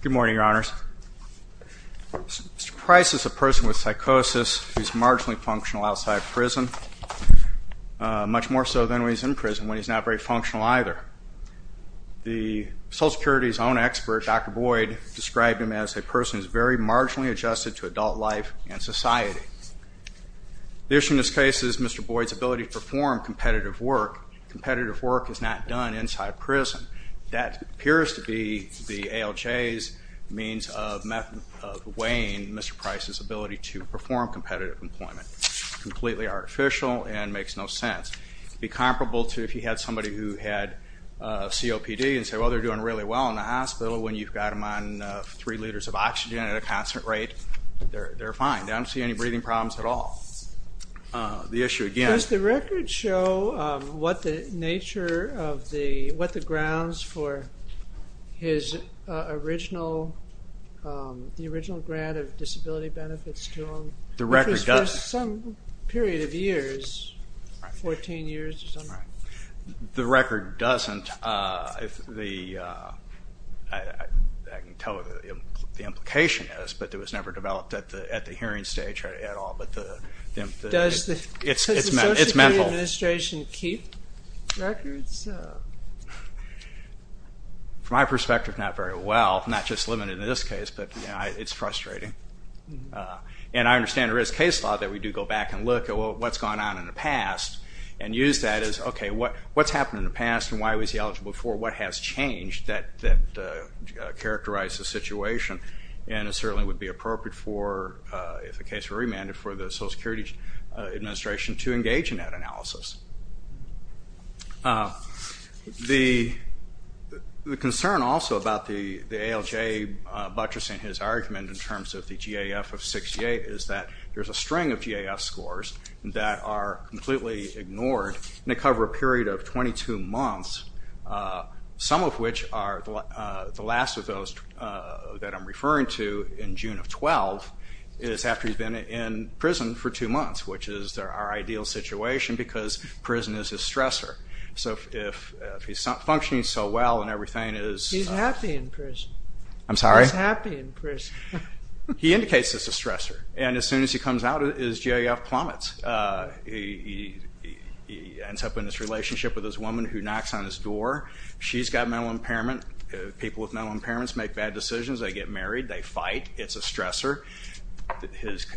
Good morning, Your Honors. Mr. Price is a person with psychosis who is marginally functional outside prison, much more so than when he's in prison when he's not very functional either. The Social Security's own expert, Dr. Boyd, described him as a person who's very marginally adjusted to adult life and society. The issue in this case is Mr. Boyd's ability to perform competitive work. Competitive work is not done inside prison. That appears to be the ALJ's means of weighing Mr. Price's ability to perform competitive employment. Completely artificial and makes no sense. It would be comparable to if you had somebody who had COPD and said, well they're doing really well in the hospital, when you've got them on three liters of oxygen at a constant rate, they're fine. They don't see any breathing problems at all. The issue again... Does the record show what the nature of the, what the grounds for his original, the original grant of disability benefits to him? The record doesn't. For some period of years, 14 years or something. The record doesn't. I can tell what the implication is, but it was never developed at the hearing stage at all, but it's mental. Does the Social Security Administration keep records? From my perspective, not very well. Not just limited in this case, but it's frustrating. And I understand there is case law that we do go back and look at what's gone on in the past and use that as, okay, what's happened in the past and why was he eligible for what has changed that characterized the situation? And it certainly would be appropriate for, if the case were remanded, for the Social Security Administration to engage in that analysis. The concern also about the ALJ buttressing his argument in terms of the GAF of 68 is that there's a string of GAF scores that are completely ignored and they cover a period of 22 months, some of which are the last of those that I'm referring to in June of 12, is after he's been in prison for because prison is his stressor. So if he's not functioning so well and everything is... He's happy in prison. I'm sorry? He's happy in prison. He indicates it's a stressor and as soon as he comes out, his GAF plummets. He ends up in this relationship with this woman who knocks on his door. She's got mental impairment. People with mental impairments make bad decisions. They get married. They fight. It's a stressor.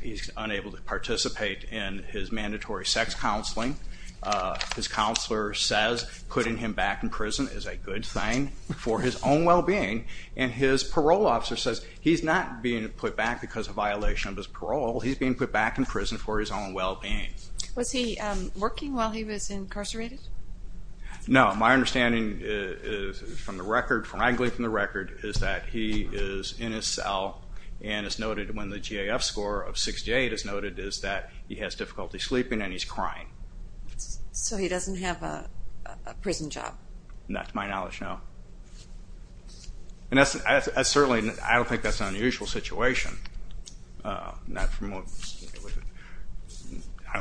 He's unable to participate in his mandatory sex counseling. His counselor says putting him back in prison is a good thing for his own well-being and his parole officer says he's not being put back because of violation of his parole. He's being put back in prison for his own well-being. Was he working while he was incarcerated? No. My understanding is from the record, frankly from the record, is that he is in his cell and it's noted when the GAF score of 68 is noted is that he has difficulty sleeping and he's crying. So he doesn't have a prison job? Not to my knowledge, no. And that's certainly, I don't think that's an unusual situation. I don't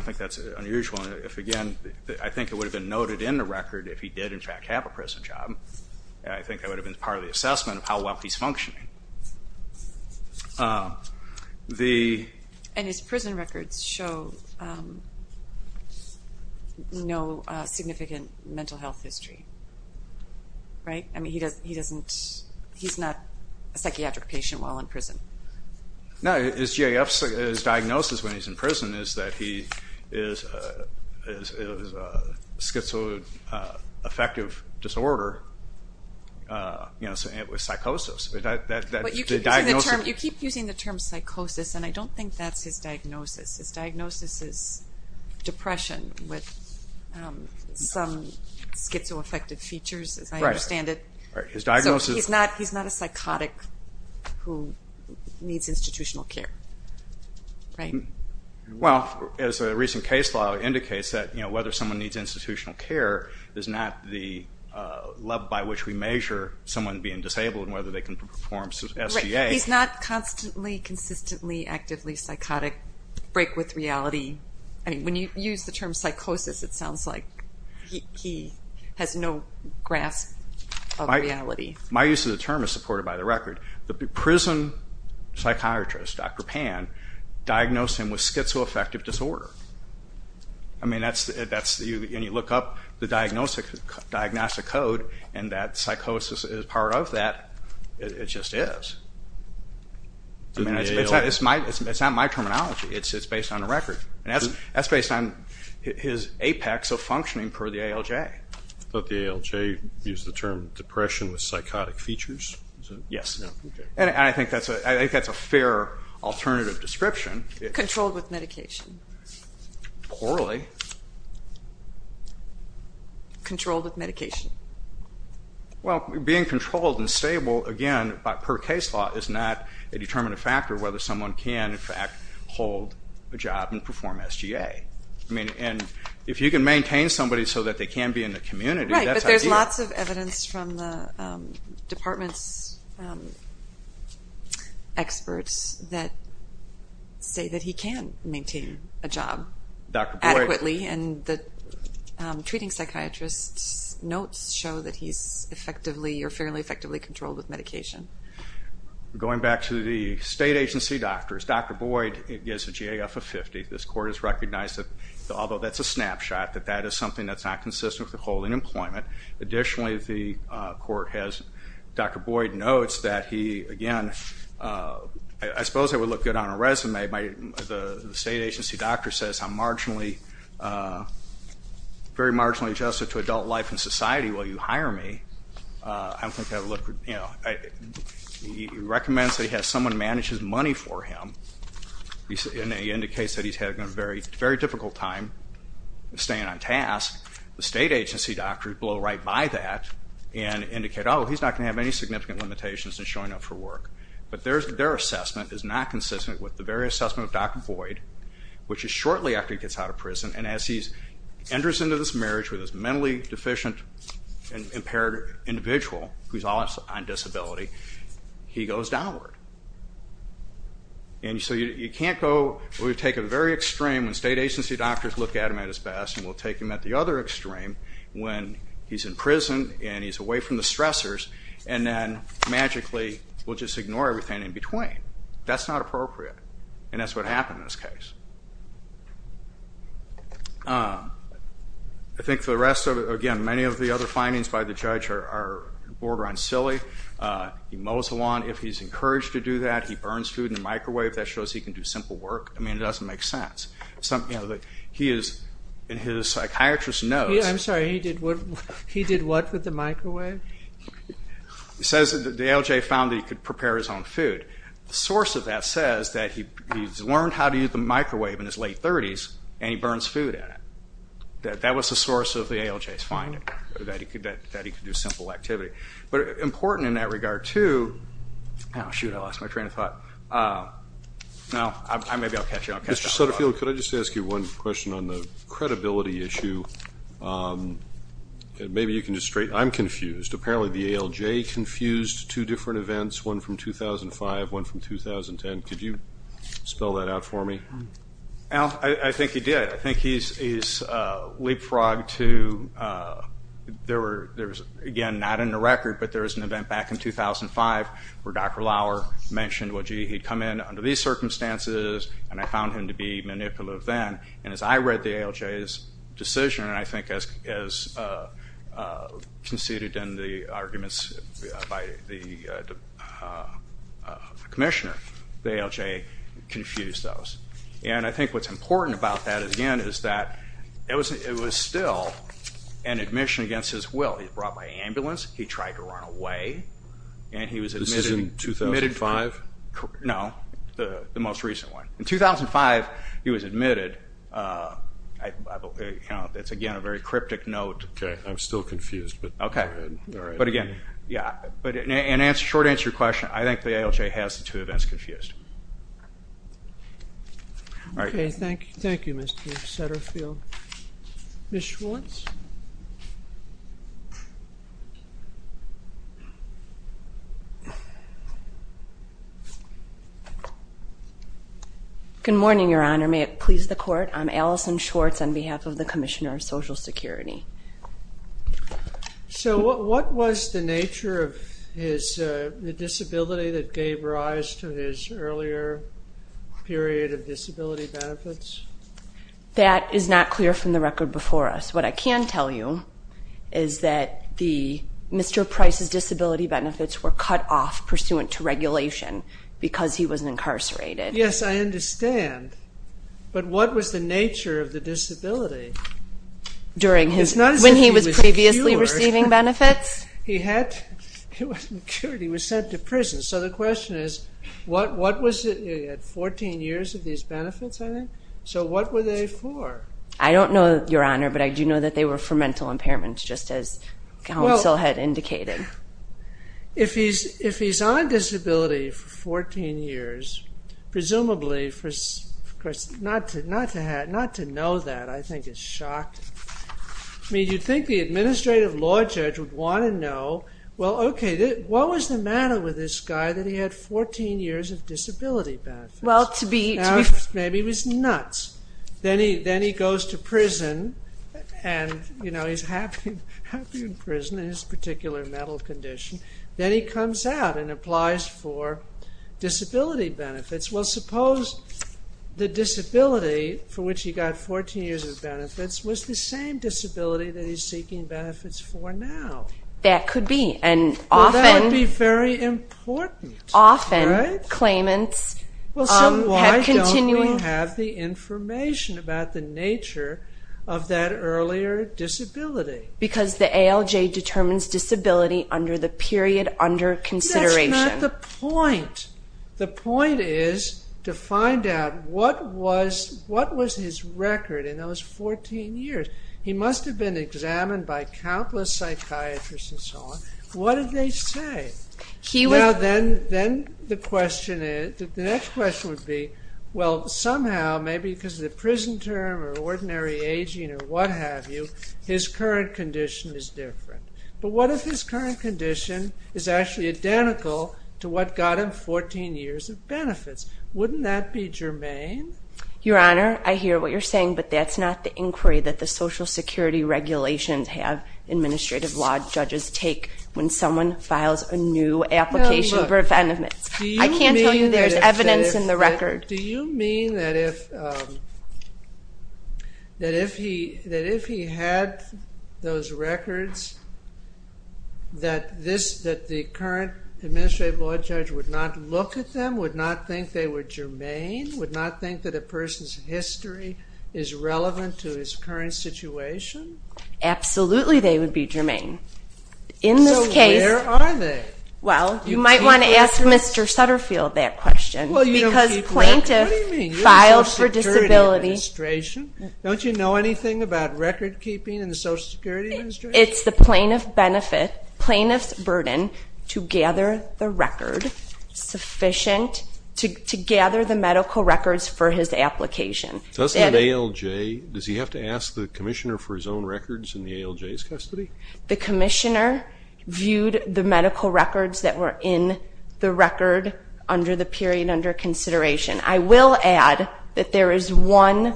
think that's unusual. If again, I think it would have been noted in the record if he did in fact have a prison job. I think that would have been part of the assessment of how well he's functioning. And his prison records show no significant mental health history, right? I mean he doesn't, he's not a psychiatric patient while in prison. No, his diagnosis when he's in prison is that he is a schizoaffective disorder with psychosis. But you keep using the term psychosis and I don't think that's his diagnosis. His diagnosis is depression with some schizoaffective features as I understand it. His diagnosis... He's not a recent case law indicates that whether someone needs institutional care is not the level by which we measure someone being disabled and whether they can perform SGA. He's not constantly, consistently, actively psychotic, break with reality. I mean when you use the term psychosis it sounds like he has no grasp of reality. My use of the term is supported by the record. The prison psychiatrist, Dr. Pan, diagnosed him with schizoaffective disorder. I mean that's the, that's the, and you look up the diagnostic code and that psychosis is part of that. It just is. It's not my terminology. It's based on the record and that's based on his apex of functioning per the ALJ. But the ALJ used the term depression with psychotic features? Yes. And I think that's a fair alternative description. Controlled with medication? Poorly. Controlled with medication? Well being controlled and stable again by per case law is not a determinative factor whether someone can in fact hold a job and perform SGA. I mean and if you can maintain somebody so that they can be in the community... Right, but there's lots of evidence from the department's experts that say that he can maintain a job adequately and the treating psychiatrist's notes show that he's effectively or fairly effectively controlled with medication. Going back to the state agency doctors, Dr. Boyd gets a GAF of 50. This court has recognized that although that's a snapshot that that is something that's not consistent with holding employment, additionally the court has, Dr. Boyd notes that he again, I suppose it would look good on a resume, but the state agency doctor says I'm marginally, very marginally adjusted to adult life and society. Will you hire me? I don't think that would look, you know, he recommends that he has someone manage his money for him. He indicates that he's having a very difficult time staying on task. The state agency doctors blow right by that and indicate, oh he's not gonna have any significant limitations in showing up for work. But their assessment is not consistent with the very assessment of Dr. Boyd, which is shortly after he gets out of prison and as he enters into this marriage with this mentally deficient and impaired individual who's all on disability, he goes downward. And so you can't go, we've taken a very extreme when state agency doctors look at him at his best and we'll take him at the other extreme when he's in prison and he's away from the stressors and then magically we'll just ignore everything in between. That's not appropriate and that's what happened in this case. I think the rest of it, again, many of the other findings by the judge are border on silly. He mows the lawn if he's encouraged to do that. He burns food in the microwave that shows he can do simple work. I mean it doesn't make sense. He is, and his psychiatrist knows. I'm sorry, he did what with the microwave? He says that the ALJ found that he could prepare his own food. The source of that says that he's learned how to use the microwave in his late 30s and he burns food at it. That was the source of the ALJ's finding, that he could do simple activity. But important in that regard too, oh shoot I lost my train of thought. Judge Sutterfield, could I just ask you one question on the credibility issue? Maybe you can just straight, I'm confused. Apparently the ALJ confused two different events, one from 2005, one from 2010. Could you spell that out for me? I think he did. I think he's leapfrogged to, there was, again, not in the record, but there was an event back in 2005 where Dr. Lauer mentioned what he'd come in under these circumstances and I found him to be manipulative then and as I read the ALJ's decision and I think as conceded in the arguments by the Commissioner, the ALJ confused those. And I think what's important about that again is that it was still an admission against his will. He was brought by the most recent one. In 2005 he was admitted. It's again a very cryptic note. Okay, I'm still confused. Okay, but again, yeah, but in short answer question, I think the ALJ has the two events confused. Okay, thank you, Mr. Sutterfield. Ms. Schwartz? Good morning, Your Honor. May it please the Court? I'm Allison Schwartz on behalf of the Commissioner of Social Security. So what was the nature of his disability that gave rise to his earlier period of disability benefits? That is not clear from the record before us. What I can tell you is that Mr. Price's disability was subject to regulation because he was incarcerated. Yes, I understand, but what was the nature of the disability? It's not as if he was cured. When he was previously receiving benefits? He was cured. He was sent to prison. So the question is what was it? He had 14 years of these benefits, I think. So what were they for? I don't know, Your Honor, but I do know that they were for mental impairments, just as if he's on disability for 14 years, presumably for, of course, not to know that, I think is shocking. I mean, you'd think the administrative law judge would want to know, well, okay, what was the matter with this guy that he had 14 years of disability benefits? Well, to be... Maybe he was nuts. Then he goes to prison and, you know, he's happy in prison and his particular mental condition. Then he comes out and applies for disability benefits. Well, suppose the disability for which he got 14 years of benefits was the same disability that he's seeking benefits for now. That could be, and often... Well, that would be very important, right? Often claimants have continuing... Well, so why don't we have the information about the nature of that earlier disability? Because the ALJ determines disability under the period under consideration. That's not the point. The point is to find out what was his record in those 14 years. He must have been examined by countless psychiatrists and so on. What did they say? Now, then the question is, the next question would be, well, somehow, maybe because of the prison term or ordinary aging or what have you, his current condition is different. But what if his current condition is actually identical to what got him 14 years of benefits? Wouldn't that be germane? Your Honor, I hear what you're saying, but that's not the inquiry that the social security regulations have administrative law judges take when someone files a new application for defendants. I can't tell you there's evidence in the record. Do you mean that if he had those records, that the current administrative law judge would not look at them, would not think they were germane, would not think that a person's history is relevant to his current situation? Absolutely, they would be germane. In this case... So where are they? Well, you might want to ask Mr. Sutterfield that question, because plaintiff filed for disability... Social Security Administration? Don't you know anything about record keeping in the Social Security Administration? It's the plaintiff's burden to gather the record sufficient to gather the medical records for his application. Does the ALJ, does he have to ask the commissioner for his own records in the ALJ's custody? The commissioner viewed the medical records that were in the record under the period under consideration. I will add that there is one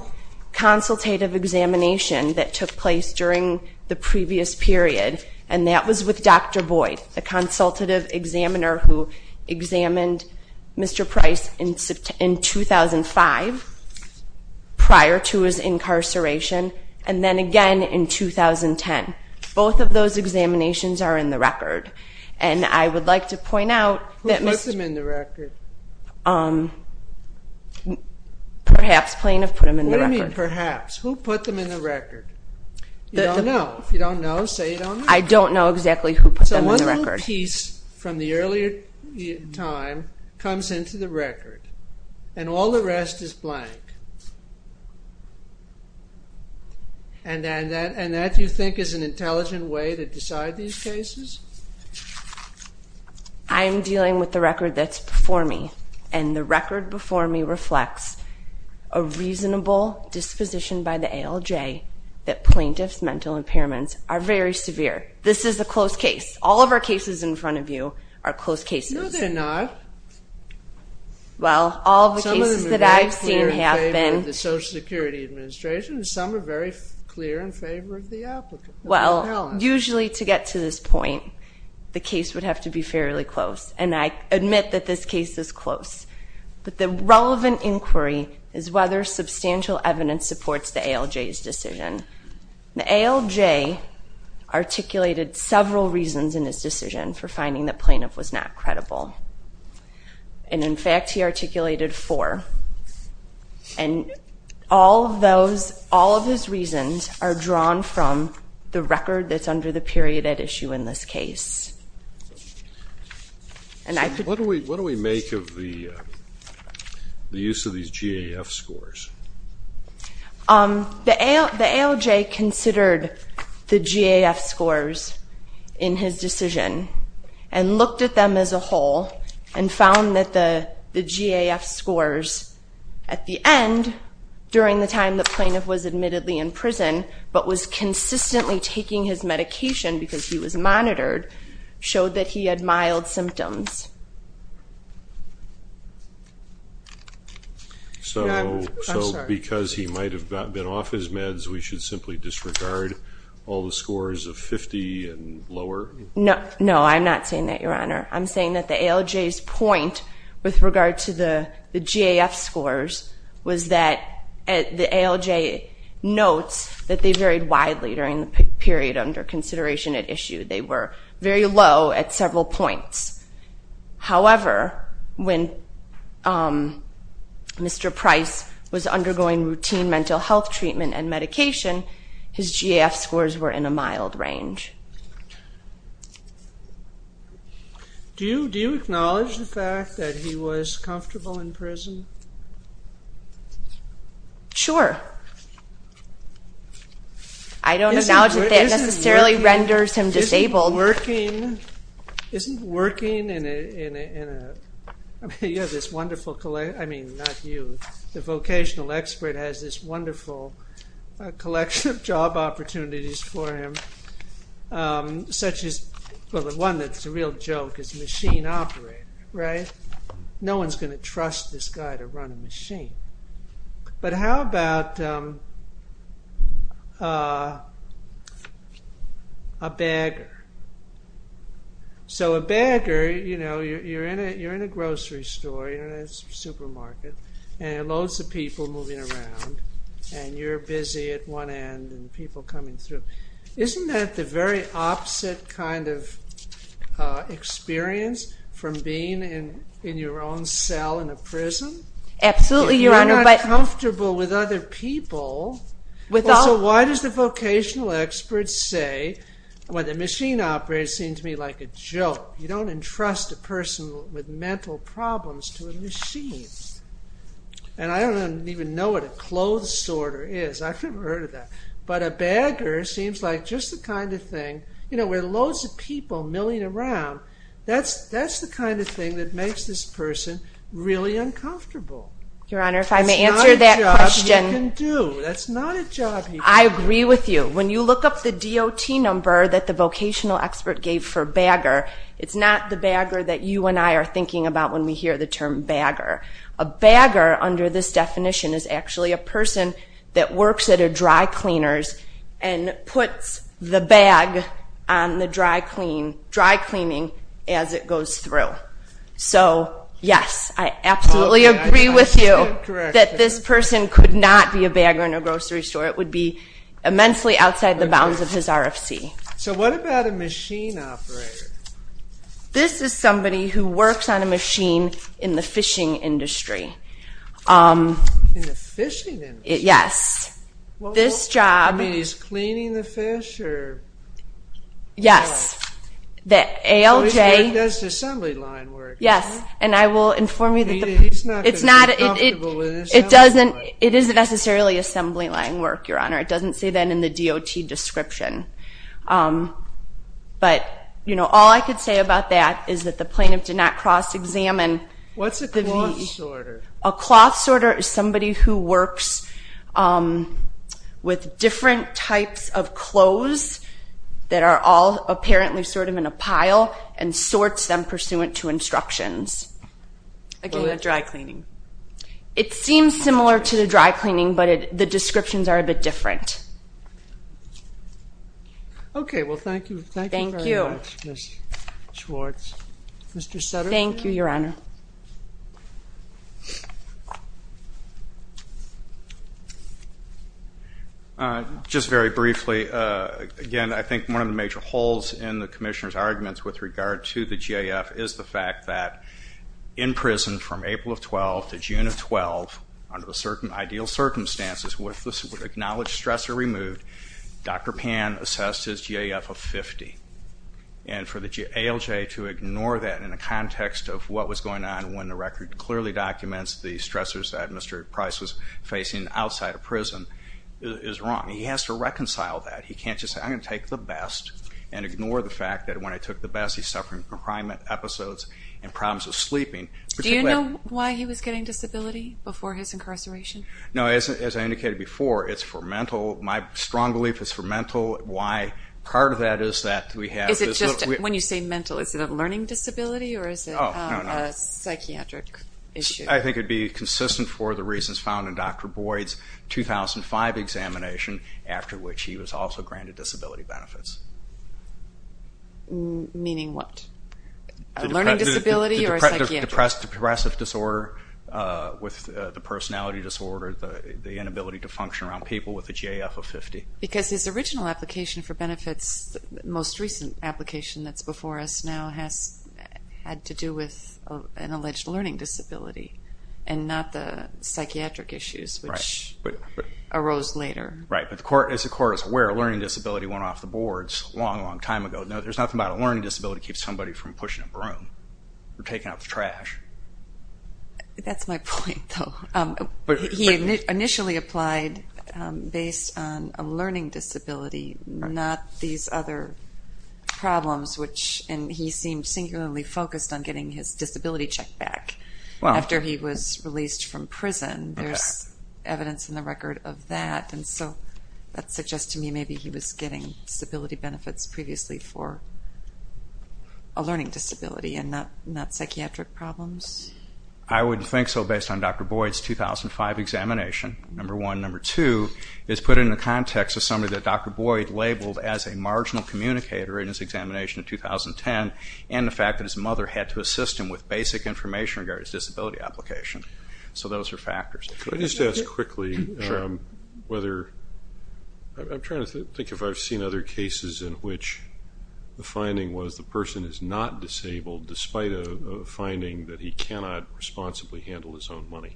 consultative examination that took place during the previous period, and that was with Dr. Boyd, the consultative examiner who examined Mr. Price in 2005, prior to his incarceration, and then again in 2010. Both of those examinations are in the record. And I would like to point out... Who put them in the record? Perhaps plaintiff put them in the record. What do you mean perhaps? Who put them in the record? You don't know. If you don't know, say it on the... I don't know exactly who put them in the record. So one little piece from the earlier time comes into the record, and all the rest is blank. And that you think is an intelligent way to decide these cases? I'm dealing with the record that's before me, and the record before me reflects a reasonable disposition by the ALJ that plaintiff's mental impairments are very severe. This is a close case. All of our cases in front of you are close cases. No, they're not. Some of them are very clear in favor of the Social Security Administration, and some are very clear in favor of the applicant. Well, usually to get to this point, the case would have to be fairly close, and I admit that this case is close. But the relevant inquiry is whether substantial evidence supports the ALJ's decision. The ALJ articulated several reasons in his decision for finding that plaintiff was not credible. And in fact, he articulated four. And all of those, all of his reasons, are drawn from the record that's under the period at issue in this case. What do we make of the use of these GAF scores? The ALJ considered the GAF scores in his decision, and looked at them as a whole, and found that the GAF scores at the end, during the time the plaintiff was admittedly in prison, but was consistently taking his medication because he was monitored, showed that he had mild symptoms. So because he might have been off his meds, we should simply disregard all the scores of 50 and lower? No, I'm not saying that, Your Honor. I'm saying that the ALJ's point with regard to the GAF scores was that the ALJ notes that they varied widely during the period under consideration at issue. They were very low at several points. However, when Mr. Price was undergoing routine mental health treatment and medication, his GAF scores were in a mild range. Do you acknowledge the fact that he was comfortable in prison? Sure. I don't acknowledge that that necessarily renders him disabled. Isn't working in a, I mean, you have this wonderful, I mean, not you, the vocational expert has this wonderful collection of job opportunities for him, such as, well the one that's a real joke is machine operator, right? No one's going to trust this guy to run a machine. But how about a bagger? So a bagger, you know, you're in a grocery store, you're in a supermarket, and there are loads of people moving around, and you're busy at one end and people coming through. Isn't that the very opposite kind of experience from being in your own cell in a prison? Absolutely, Your Honor. You're not comfortable with other people. So why does the vocational expert say, well the machine operator seems to me like a joke. You don't entrust a person with mental problems to a machine. And I don't even know what a clothes sorter is. I've never heard of that. But a bagger seems like just the kind of thing, you know, with loads of people milling around, that's the kind of thing that makes this person really uncomfortable. Your Honor, if I may answer that question. That's not a job he can do. That's not a job he can do. I agree with you. When you look up the DOT number that the vocational expert gave for bagger, it's not the bagger that you and I are thinking about when we hear the term bagger. A bagger under this definition is actually a person that works at a dry cleaners and puts the bag on the dry cleaning as it goes through. So yes, I absolutely agree with you that this person could not be a bagger in a grocery store. It would be immensely outside the bounds of his RFC. So what about a machine operator? This is somebody who works on a machine in the fishing industry. In the fishing industry? Yes. I mean, he's cleaning the fish? Yes. So he does assembly line work? Yes, and I will inform you that it's not necessarily assembly line work, Your Honor. It doesn't say that in the DOT description. But, you know, all I could say about that is that the plaintiff did not cross-examine. What's a cloth sorter? A cloth sorter is somebody who works with different types of clothes that are all apparently sort of in a pile and sorts them pursuant to instructions. Again, a dry cleaning? It seems similar to the dry cleaning, but the descriptions are a bit different. Okay. Well, thank you. Thank you very much, Ms. Schwartz. Mr. Sutter? Thank you, Your Honor. Just very briefly. Again, I think one of the major holes in the Commissioner's arguments with regard to the GAF is the fact that in prison from April of 12 to June of 12, under the ideal circumstances, with the acknowledged stressor removed, Dr. Pan assessed his GAF of 50. And for the ALJ to ignore that in the context of what was going on when the record clearly documents the stressors that Mr. Price was facing outside of prison is wrong. He has to reconcile that. He can't just say, I'm going to take the best and ignore the fact that when I took the best, he's suffering from crime episodes and problems with sleeping. Do you know why he was getting disability before his incarceration? No. As I indicated before, it's for mental. My strong belief is for mental. Part of that is that we have... When you say mental, is it a learning disability or is it a psychiatric issue? I think it would be consistent for the reasons found in Dr. Boyd's 2005 examination after which he was also granted disability benefits. Meaning what? A learning disability or a psychiatric? Depressive disorder with the personality disorder, the inability to function around people with a GAF of 50. Because his original application for benefits, the most recent application that's before us now, has had to do with an alleged learning disability and not the psychiatric issues which arose later. Right, but the court is aware a learning disability went off the boards a long, long time ago. There's nothing about a learning disability that keeps somebody from pushing a broom or taking out the trash. That's my point, though. He initially applied based on a learning disability, not these other problems, and he seemed singularly focused on getting his disability check back after he was released from prison. There's evidence in the record of that. That suggests to me maybe he was getting disability benefits previously for a learning disability and not psychiatric problems. I wouldn't think so based on Dr. Boyd's 2005 examination, number one. Number two is put in the context of somebody that Dr. Boyd labeled as a marginal communicator in his examination in 2010 and the fact that his mother had to assist him with basic information regarding his disability application. So those are factors. If I could just ask quickly whether... I'm trying to think if I've seen other cases in which the finding was the person is not disabled despite a finding that he cannot responsibly handle his own money.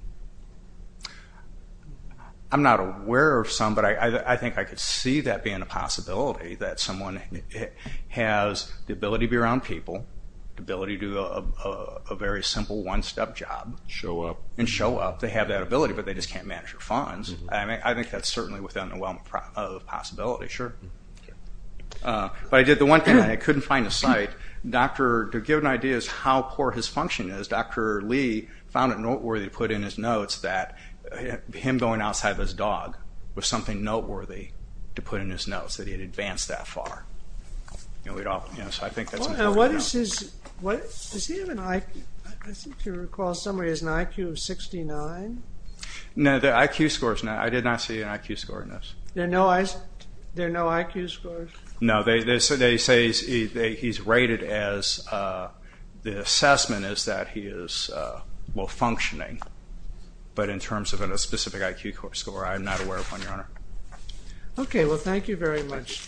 I'm not aware of some, but I think I could see that being a possibility, that someone has the ability to be around people, the ability to do a very simple one-step job... Show up. ...and show up, they have that ability, but they just can't manage their funds. I think that's certainly within the realm of possibility, sure. But I did the one thing and I couldn't find a site. To give an idea as to how poor his function is, Dr. Lee found it noteworthy to put in his notes that him going outside of his dog was something noteworthy to put in his notes, that he had advanced that far. So I think that's important to know. Does he have an IQ... I think you recall somewhere he has an IQ of 69? No, the IQ score is not... I did not see an IQ score in those. There are no IQ scores? No, they say he's rated as... the assessment is that he is, well, functioning, but in terms of a specific IQ score, I'm not aware of one, Your Honor. Okay, well, thank you very much.